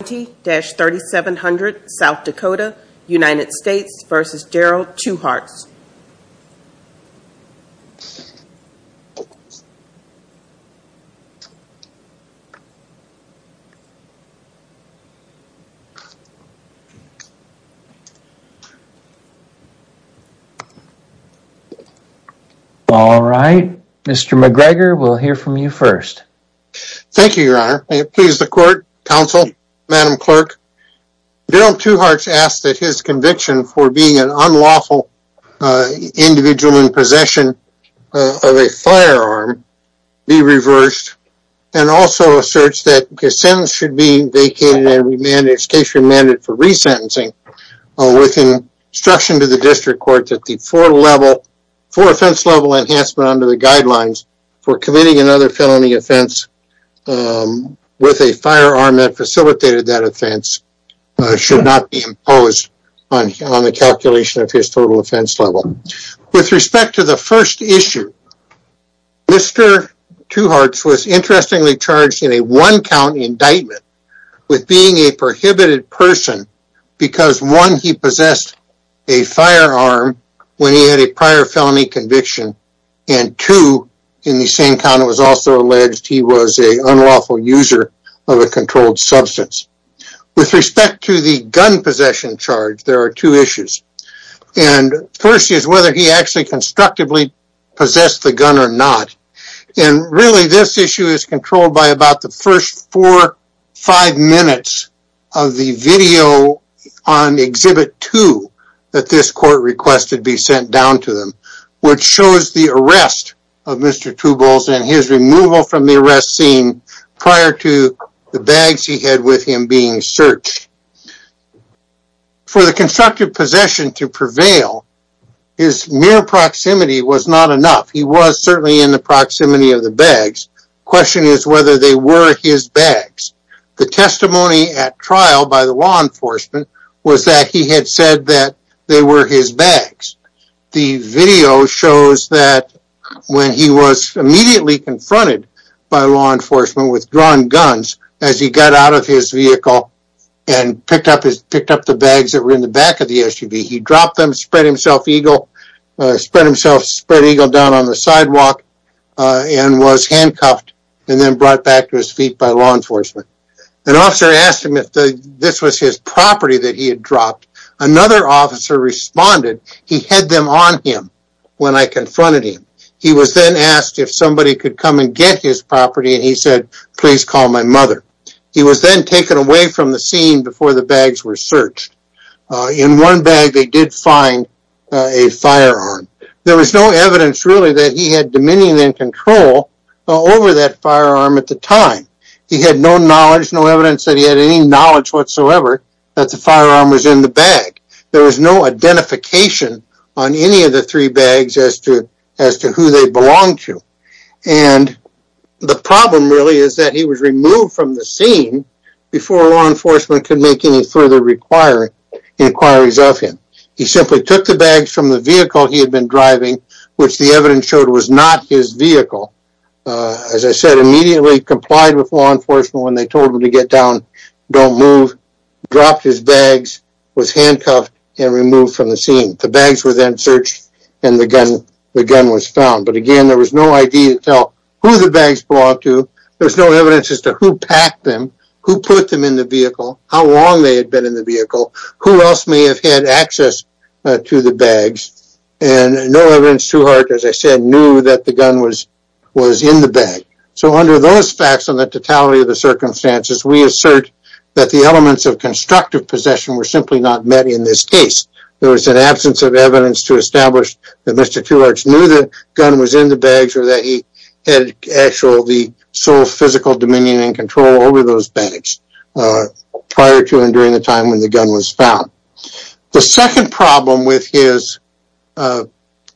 All right, Mr. McGregor, we'll hear from you first. Thank you, Your Honor. May it please the Court, Counsel, Madam Clerk, Darrell Two Hearts asks that his conviction for being an unlawful individual in possession of a firearm be reversed, and also asserts that his sentence should be vacated and remanded, in this case remanded for resentencing, with instruction to the District Court that the four offense-level enhancement under the guidelines for committing another felony offense with a firearm that facilitated that offense should not be imposed on the calculation of his total offense level. With respect to the first issue, Mr. Two Hearts was interestingly charged in a one-count indictment with being a prohibited person because, one, he possessed a firearm when he had a prior felony conviction, and, two, in the same count it was also alleged he was an unlawful user of a controlled substance. With respect to the gun possession charge, there are two issues, and the first is whether he actually constructively possessed the gun or not, and really this issue is controlled by about the first four or five minutes of the video on Exhibit 2 that this Court requested be sent down to them, which shows the arrest of Mr. Two Bulls and his removal from the arrest scene prior to the bags he had with him being searched. For the constructive possession to prevail, his mere proximity was not enough. He was certainly in the proximity of the bags. The question is whether they were his bags. The testimony at trial by the law enforcement was that he had said that they were his bags. The video shows that when he was immediately confronted by law enforcement with drawn guns as he got out of his vehicle and picked up the bags that were in the back of the SUV, he dropped them, spread himself eagle, spread himself spread eagle down on the sidewalk, and was handcuffed and then brought back to his feet by law enforcement. An officer asked him if this was his property that he had dropped. Another officer responded, he had them on him when I confronted him. He was then asked if somebody could come and get his property and he said, please call my mother. He was then taken away from the scene before the bags were searched. In one bag they did find a firearm. There was no evidence really that he had dominion and control over that firearm at the time. He had no knowledge, no evidence that he had any knowledge whatsoever that the firearm was in the bag. There was no identification on any of the three bags as to who they belonged to. And the problem really is that he was removed from the scene before law enforcement could make any further inquiries of him. He simply took the bags from the vehicle he had been driving, which the evidence showed was not his vehicle. As I said, immediately complied with law enforcement when they told him to get down, don't move, dropped his bags, was handcuffed, and removed from the scene. The bags were then searched and the gun was found. But again, there was no idea to tell who the bags belonged to. There's no evidence as to who packed them, who put them in the vehicle, how long they have had access to the bags, and no evidence Tuhart, as I said, knew that the gun was in the bag. So under those facts and the totality of the circumstances, we assert that the elements of constructive possession were simply not met in this case. There was an absence of evidence to establish that Mr. Tuhart knew the gun was in the bags or that he had actually sole physical dominion and control over those bags prior to and during the time when the gun was found. The second problem with his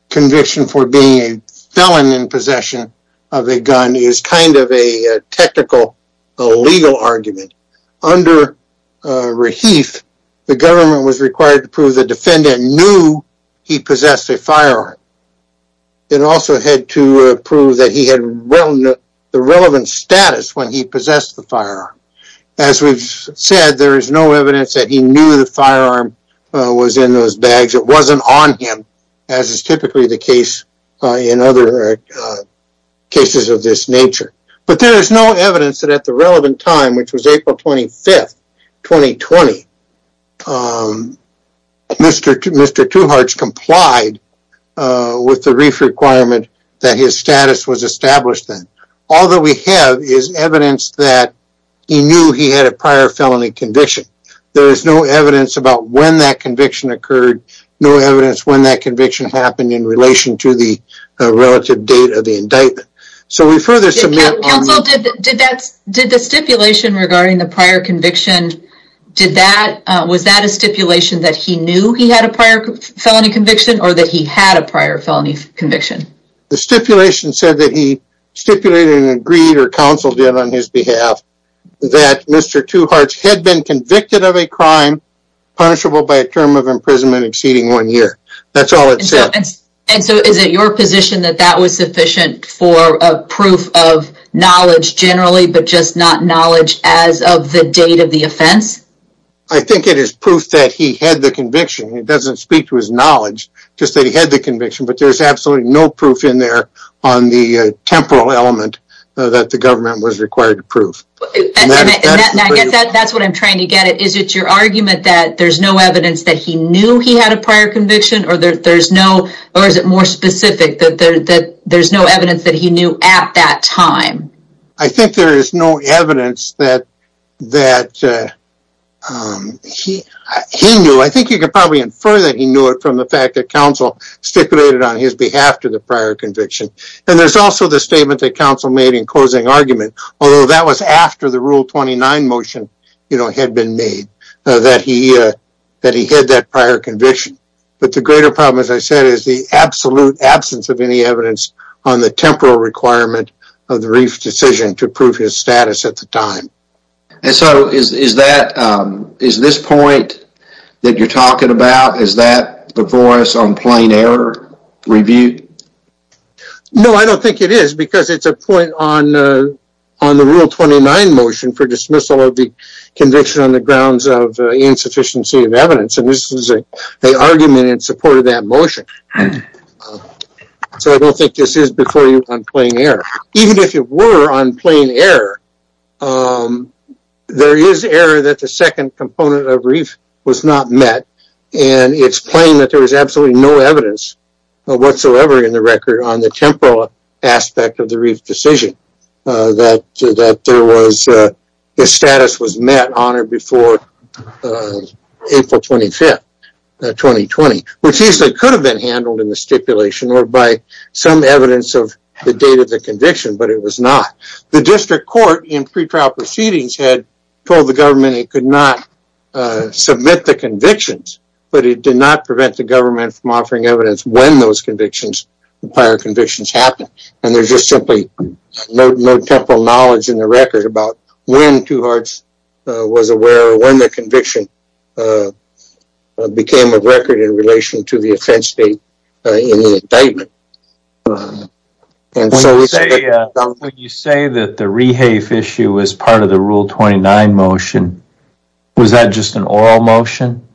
conviction for being a felon in possession of a gun is kind of a technical, illegal argument. Under Rahif, the government was required to prove the defendant knew he possessed a firearm. It also had to prove that he had the relevant status when he possessed the firearm. As we've said, there is no evidence that he knew the firearm was in those bags. It wasn't on him, as is typically the case in other cases of this nature. But there is no evidence that at the relevant time, which was April 25, 2020, Mr. Tuhart complied with the Rahif requirement that his status was established then. All that we have is evidence that he knew he had a prior felony conviction. There is no evidence about when that conviction occurred, no evidence when that conviction happened in relation to the relative date of the indictment. So we further submit on that. Counsel, did the stipulation regarding the prior conviction, was that a stipulation that he knew he had a prior felony conviction or that he had a prior felony conviction? The stipulation said that he stipulated and agreed or counseled it on his behalf that Mr. Tuhart had been convicted of a crime punishable by a term of imprisonment exceeding one year. That's all it said. And so is it your position that that was sufficient for a proof of knowledge generally, but just not knowledge as of the date of the offense? I think it is proof that he had the conviction. It doesn't speak to his knowledge, just that he had the conviction. But there's absolutely no proof in there on the temporal element that the government was required to prove. That's what I'm trying to get at. Is it your argument that there's no evidence that he knew he had a prior conviction or that there's no, or is it more specific that there's no evidence that he knew at that time? I think there is no evidence that he knew. I think you can probably infer that he knew it from the fact that counsel stipulated on his behalf to the prior conviction. And there's also the statement that counsel made in closing argument, although that was after the rule 29 motion, you know, had been made that he, uh, that he had that prior conviction. But the greater problem, as I said, is the absolute absence of any evidence on the temporal requirement of the reef decision to prove his status at the time. And so is, is that, um, is this point that you're talking about, is that before us on plain error review? No, I don't think it is because it's a point on, uh, on the rule 29 motion for dismissal of the conviction on the grounds of insufficiency of evidence. And this was a, a argument in support of that motion. So I don't think this is before you on plain error. Even if you were on plain error, um, there is error that the second component of reef was not met and it's plain that there was absolutely no evidence whatsoever in the record on the temporal aspect of the reef decision, uh, that, that there was, uh, his status was met on or before, uh, April 25th, 2020, which he said could have been handled in the stipulation or by some evidence of the date of the conviction, but it was not. The district court in pre-trial proceedings had told the government it could not, uh, submit the convictions, but it did not prevent the government from offering evidence when those convictions, prior convictions happened. And there's just simply no, no temporal knowledge in the record about when Tuharts, uh, was aware when the conviction, uh, uh, became a record in relation to the offense date, uh, indictment. And so when you say that the rehafe issue is part of the rule 29 motion, was that just an oral motion?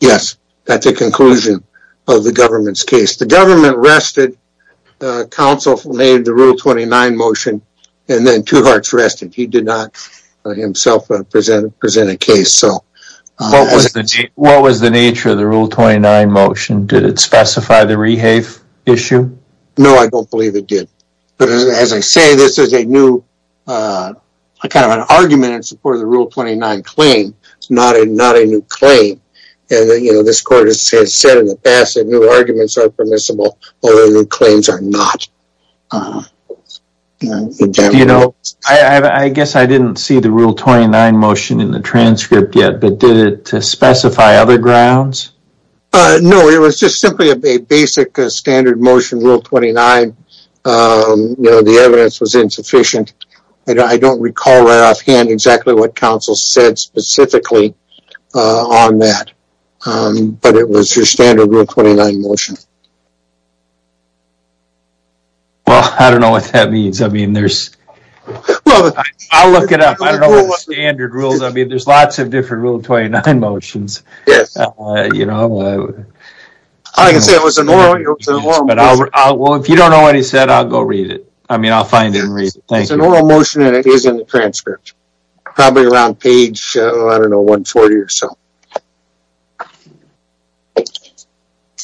Yes. That's a conclusion of the government's case. The government rested, uh, counsel made the rule 29 motion and then Tuharts rested. He did not, uh, himself, uh, present, present a case. So, uh. What was the, what was the nature of the rule 29 motion? Did it specify the rehafe issue? No, I don't believe it did. But as I say, this is a new, uh, kind of an argument in support of the rule 29 claim. It's not a, not a new claim. And, you know, this court has said in the past that new arguments are permissible, although new claims are not. Uh-huh. You know, I guess I didn't see the rule 29 motion in the transcript yet, but did it specify other grounds? No, it was just simply a basic standard motion, rule 29. Um, you know, the evidence was insufficient. I don't recall right offhand exactly what counsel said specifically, uh, on that. Um, but it was your standard rule 29 motion. Well, I don't know what that means. I mean, there's, well, I'll look it up. I don't know what the standard rules. I mean, there's lots of different rule 29 motions. Yes. You know. I can say it was an oral, it was an oral motion. But I'll, I'll, well, if you don't know what he said, I'll go read it. I mean, I'll find it and read it. Thank you. It's an oral motion and it is in the transcript. Probably around page, I don't know, 140 or so. Okay.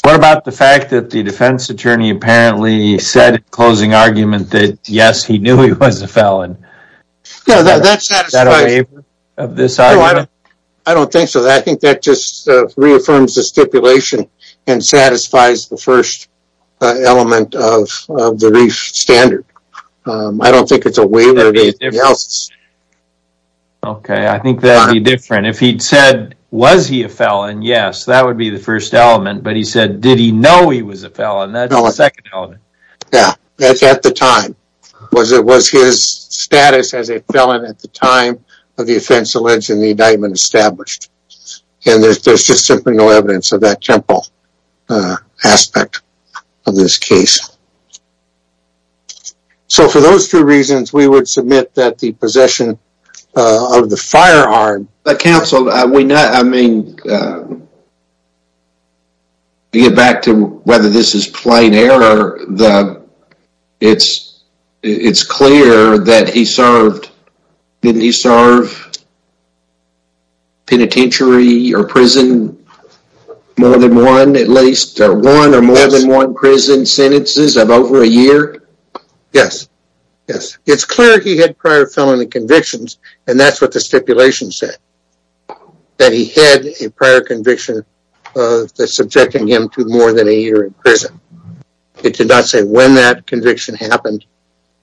What about the fact that the defense attorney apparently said closing argument that yes, he knew he was a felon? Yeah, that's, that's not a waiver of this item. I don't think so. I think that just reaffirms the stipulation and satisfies the first element of the standard. I don't think it's a waiver. Okay. I think that'd be different. If he'd said, was he a felon? Yes, that would be the first element. But he said, did he know he was a felon? That's the second element. Yeah, that's at the time. Was it, was his status as a felon at the time of the offense alleged in the indictment established? And there's, there's just simply no evidence of that temple aspect of this case. So for those two reasons, we would submit that the possession of the firearm. But counsel, we not, I mean, to get back to whether this is plain error, the, it's, it's clear that he served, didn't he serve penitentiary or prison more than one, at least, one or more than one prison sentences of over a year? Yes. Yes. It's clear he had prior felony convictions. And that's what the stipulation said. That he had a prior conviction of the subjecting him to more than a year in prison. It did not say when that conviction happened.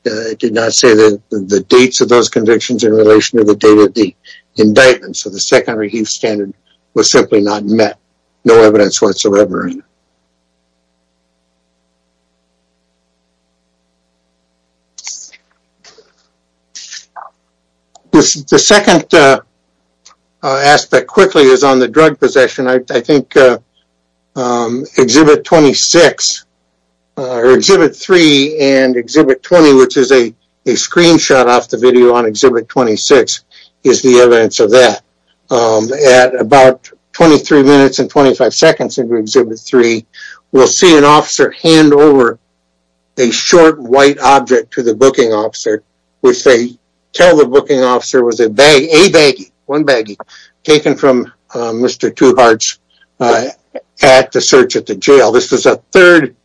It did not say the dates of those convictions in relation to the date of the indictment. So the secondary heath standard was simply not met. No evidence whatsoever. The second aspect quickly is on the drug possession. I think Exhibit 26, or Exhibit 3 and Exhibit 20, which is a screenshot off the video on Exhibit 26 is the evidence of that. At about 23 minutes and 25 seconds into Exhibit 3, we'll see an officer hand over a short white object to the booking officer, which they tell the booking officer was a bag, a baggie, one baggie, taken from Mr. Tuhart's hat to search at the jail. This was a third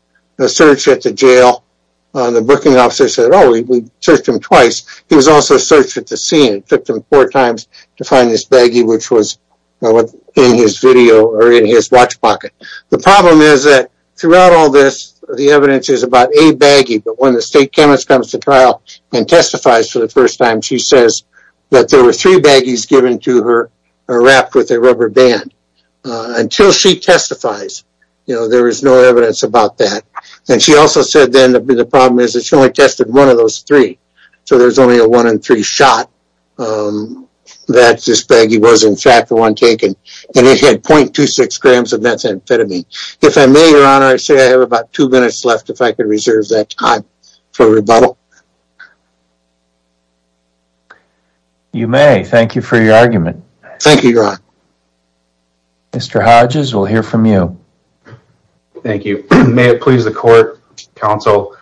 search at the jail. The booking officer said, oh, we searched him twice. He was also searched at the scene. It took him four times to find this baggie, which was in his video or in his watch pocket. The problem is that throughout all this, the evidence is about a baggie, but when the state chemist comes to trial and testifies for the first time, she says that there were three baggies given to her or wrapped with a rubber band. Until she testifies, you know, there is no evidence about that. And she also said then the problem is that she only tested one of those three. So there's only a one in three shot that this baggie was in fact the one taken. And it had 0.26 grams of methamphetamine. If I may, your honor, I say I have about two minutes left if I could reserve that time for rebuttal. You may. Thank you for your argument. Thank you, your honor. Mr. Hodges, we'll hear from you. Thank you. May it please the court, counsel.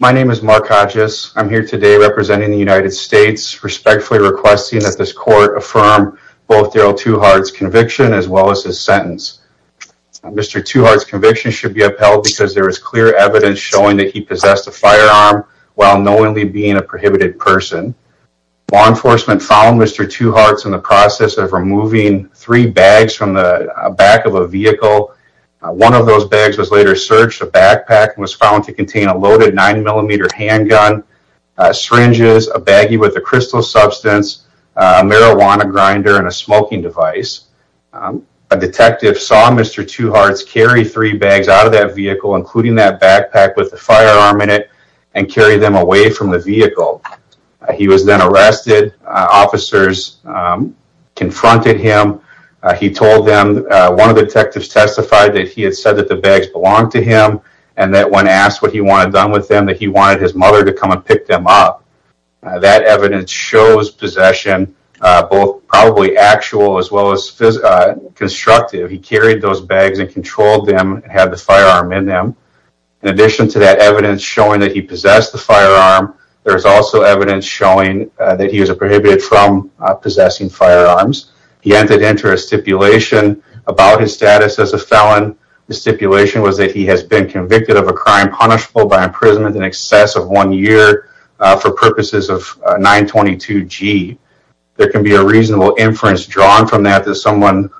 My name is Mark Hodges. I'm here today representing the United States respectfully requesting that this court affirm both Darrell Tuhart's conviction as well as his sentence. Mr. Tuhart's conviction should be upheld because there is clear evidence showing that he possessed a firearm while knowingly being a prohibited person. Law enforcement found Mr. Tuhart's in the process of removing three bags from the back of a vehicle. One of those bags was later searched. A backpack was found to contain a loaded nine millimeter handgun, syringes, a baggie with a crystal substance, a marijuana grinder, and a smoking device. A detective saw Mr. Tuhart's carry three bags out of that vehicle, including that backpack with the firearm in it, and carry them away from the vehicle. He was then arrested. Officers confronted him. He told them one of the detectives testified that he had said that the bags belonged to him and that when asked what he wanted done with them that he wanted his mother to come and pick them up. That evidence shows possession, both probably actual as well as constructive. He carried those bags and controlled them and had the firearm in them. In addition to that evidence showing that he possessed the firearm, there's also evidence showing that he was a prohibited from possessing firearms. He entered into a stipulation about his status as a felon. The stipulation was that he has been convicted of a crime punishable by 922 G. There can be a reasonable inference drawn from that that someone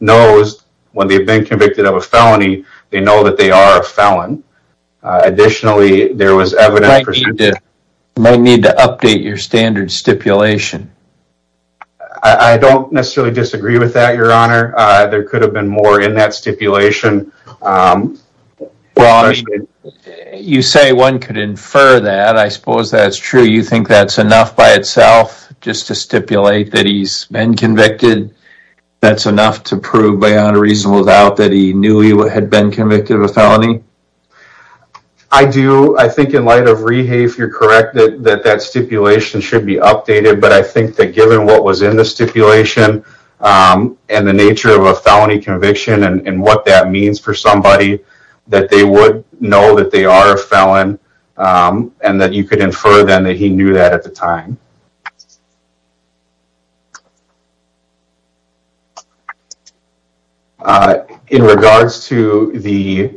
knows when they've been convicted of a felony, they know that they are a felon. Additionally, there was evidence... You might need to update your standard stipulation. I don't necessarily disagree with that, your honor. There could have been more in that stipulation. Well, you say one could infer that. I suppose that's true. You think that's enough by itself just to stipulate that he's been convicted? That's enough to prove beyond a reasonable doubt that he knew he had been convicted of a felony? I do. I think in light of Rehae, if you're correct, that that stipulation should be updated. But I think that given what was in the stipulation and the nature of a felony conviction and what that means for somebody, that they would know that they are a felon and that you could infer then that he knew that at the time. In regards to the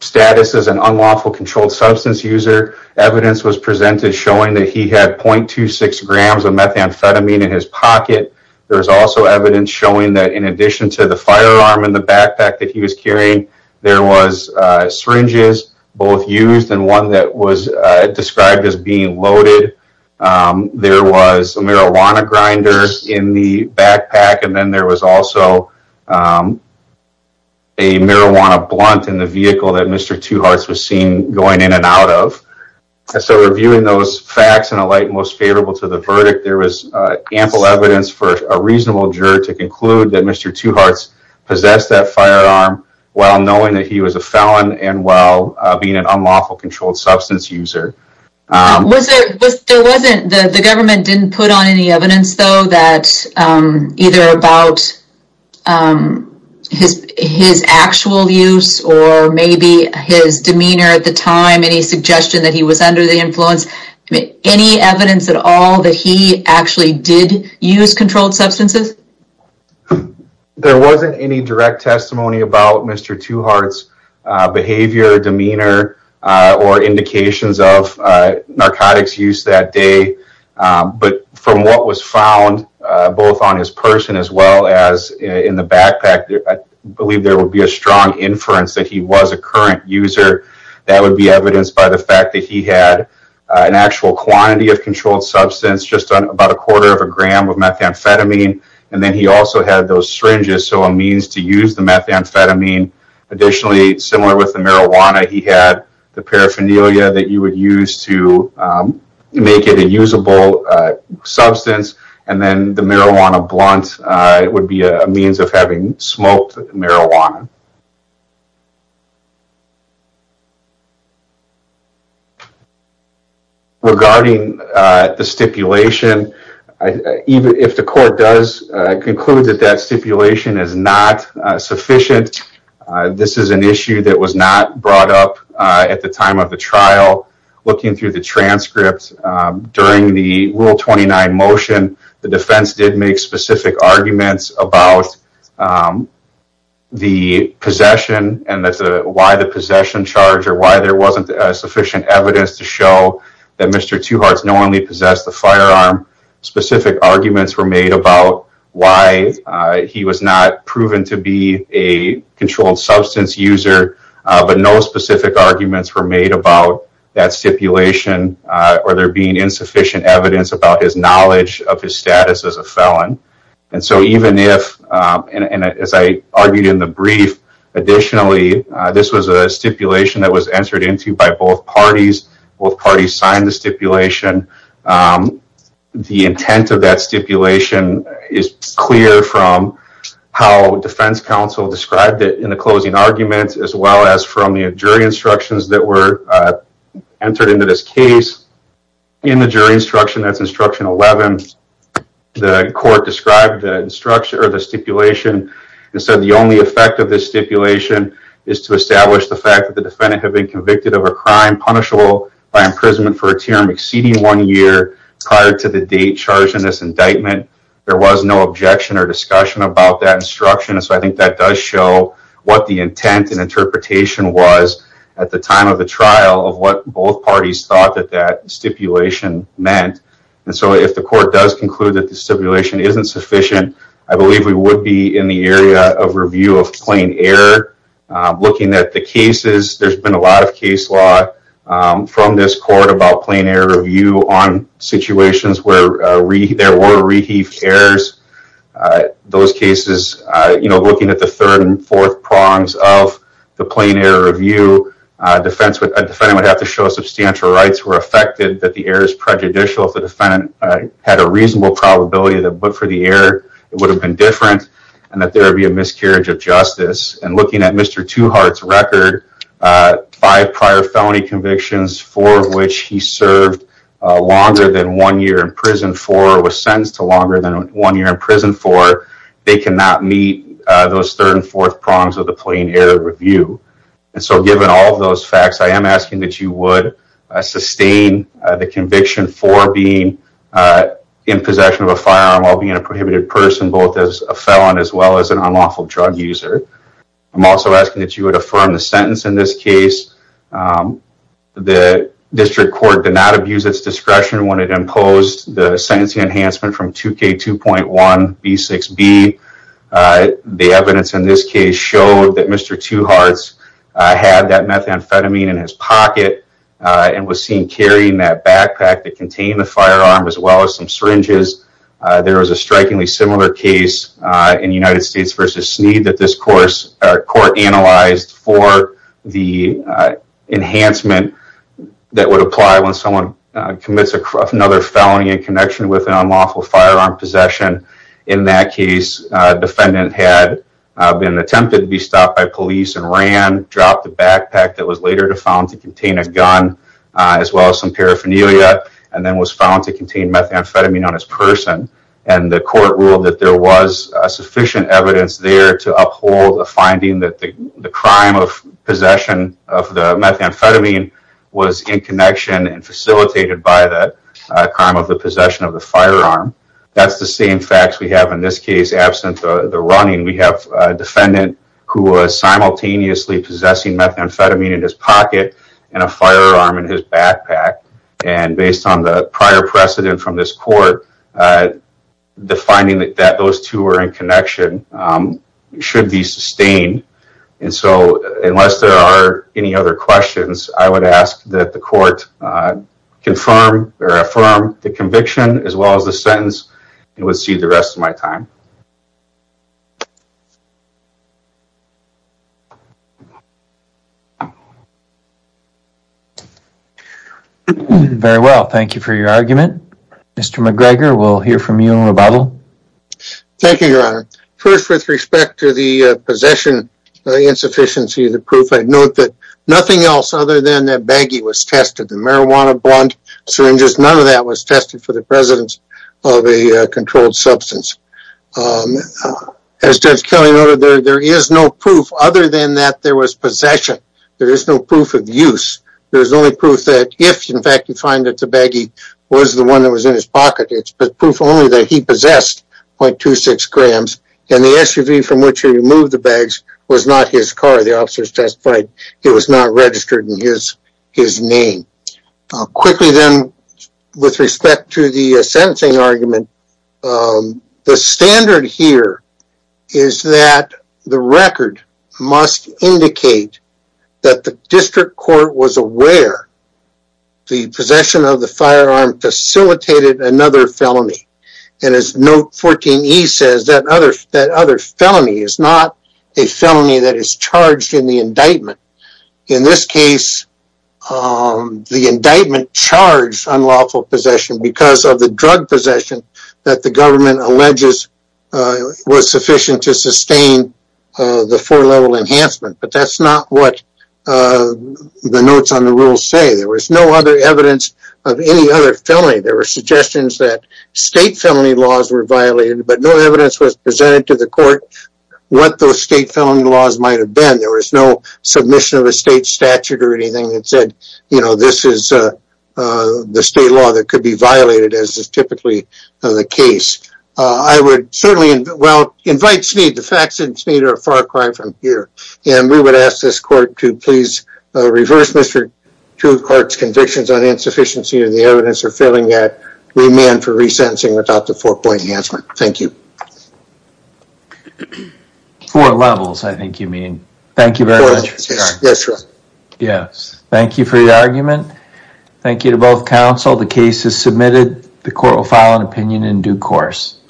status as an unlawful controlled substance user, evidence was presented showing that he had 0.26 grams of methamphetamine in his pocket. There was also evidence showing that in addition to the firearm in the backpack that he was carrying, there was syringes both used and one that was described as being loaded. There was a marijuana grinder in the backpack. And then there was also a marijuana blunt in the vehicle that Mr. Two Hearts was seen going in and out of. So reviewing those facts in a light most favorable to the verdict, there was ample evidence for a reasonable juror to conclude that Mr. Two Hearts possessed that firearm while knowing that he was a felon and while being an unlawful controlled substance user. The government didn't put on any evidence though that either about um his his actual use or maybe his demeanor at the time, any suggestion that he was under the influence, any evidence at all that he actually did use controlled substances? There wasn't any direct testimony about Mr. Two Hearts behavior, demeanor, or indications of in the backpack. I believe there would be a strong inference that he was a current user. That would be evidenced by the fact that he had an actual quantity of controlled substance, just about a quarter of a gram of methamphetamine. And then he also had those syringes, so a means to use the methamphetamine. Additionally, similar with the marijuana, he had the paraphernalia that you would use to make it a usable substance. And then the marijuana blunt would be a means of having smoked marijuana. Regarding the stipulation, even if the court does conclude that that stipulation is not sufficient, this is an issue that was not brought up at the time of the trial. Looking through the transcripts during the Rule 29 motion, the defense did make specific arguments about the possession and that's why the possession charge or why there wasn't sufficient evidence to show that Mr. Two Hearts not only possessed the firearm, specific arguments were made about why he was not proven to be a controlled substance user, but no specific arguments were made about that stipulation or there being insufficient evidence about his knowledge of his status as a felon. And so even if, and as I argued in the brief, additionally, this was a stipulation that was entered into by both parties, both parties signed the stipulation, the intent of that stipulation is clear from how defense counsel described it in the closing arguments as well as from the jury instructions that were entered into this case. In the jury instruction, that's instruction 11, the court described the stipulation and said the only effect of this stipulation is to establish the fact that the defendant had been convicted of a crime punishable by imprisonment for a term exceeding one year prior to the date charged in this indictment. There was no objection or discussion about that instruction, so I think that does show what the intent and interpretation was at the time of the trial of what both parties thought that that stipulation meant. And so if the court does conclude that the stipulation isn't sufficient, I believe we would be in the area of review of plain error, looking at the cases, there's been a lot of case law from this court about plain error review on situations where there were reheaved errors. Those cases, you know, looking at the third and fourth prongs of the plain error review, a defendant would have to show substantial rights were affected that the error is prejudicial if the defendant had a reasonable probability that but for the error, it would have been different and that there would be a miscarriage of justice. And looking at Mr. Tuhart's record, five prior felony convictions, four of which he served longer than one year in prison for was sentenced to longer than one year in prison for, they cannot meet those third and fourth prongs of the plain error review. And so given all of those facts, I am asking that you would sustain the conviction for being in possession of a firearm while being a prohibited person, both as a felon as well as an unlawful drug user. I'm also asking that you would affirm the sentence in this case. The district court did not abuse its discretion when it imposed the sentencing enhancement from 2K2.1B6B. The evidence in this case showed that Mr. Tuhart's had that methamphetamine in his pocket and was seen carrying that backpack that contained the firearm as well as some syringes. There was a strikingly similar case in United States versus Sneed that this court analyzed for the enhancement that would apply when someone commits another felony in connection with an unlawful firearm possession. In that case, defendant had been attempted to be stopped by police and ran, dropped the backpack that was later found to contain a gun as well as some paraphernalia, and then was found to contain methamphetamine on his person. And the court that there was sufficient evidence there to uphold a finding that the crime of possession of the methamphetamine was in connection and facilitated by the crime of the possession of the firearm. That's the same facts we have in this case. Absent the running, we have a defendant who was simultaneously possessing methamphetamine in his pocket and a firearm in his backpack. And based on the prior precedent from this court, the finding that those two were in connection should be sustained. And so unless there are any other questions, I would ask that the court confirm or affirm the conviction as well as the sentence and would see the rest of my time. Thank you. Very well, thank you for your argument. Mr. McGregor, we'll hear from you in rebuttal. Thank you, Your Honor. First, with respect to the possession insufficiency, the proof, I note that nothing else other than that baggie was tested. The marijuana bond syringes, none of that was controlled substance. As Judge Kelly noted, there is no proof other than that there was possession. There is no proof of use. There is only proof that if, in fact, you find that the baggie was the one that was in his pocket, it's proof only that he possessed 0.26 grams and the SUV from which he removed the bags was not his car. The officers testified it was not registered in his name. Quickly then, with respect to the sentencing argument, the standard here is that the record must indicate that the district court was aware the possession of the firearm facilitated another felony. And as note 14E says, that other felony is not a felony that is charged in the case. The indictment charged unlawful possession because of the drug possession that the government alleges was sufficient to sustain the four-level enhancement. But that's not what the notes on the rules say. There was no other evidence of any other felony. There were suggestions that state felony laws were violated, but no evidence was presented to the court what those state felony laws might have been. There was no submission of a state statute or anything that said, you know, this is the state law that could be violated, as is typically the case. I would certainly, well, invite Smead. The facts of Smead are a far cry from here. And we would ask this court to please reverse Mr. Truecourt's convictions on insufficiency of the evidence or failing that remand for resentencing without the four-point enhancement. Thank you. Four levels, I think you mean. Thank you very much. Yes, sir. Yes. Thank you for the argument. Thank you to both counsel. The case is submitted. The court will file an opinion in due course.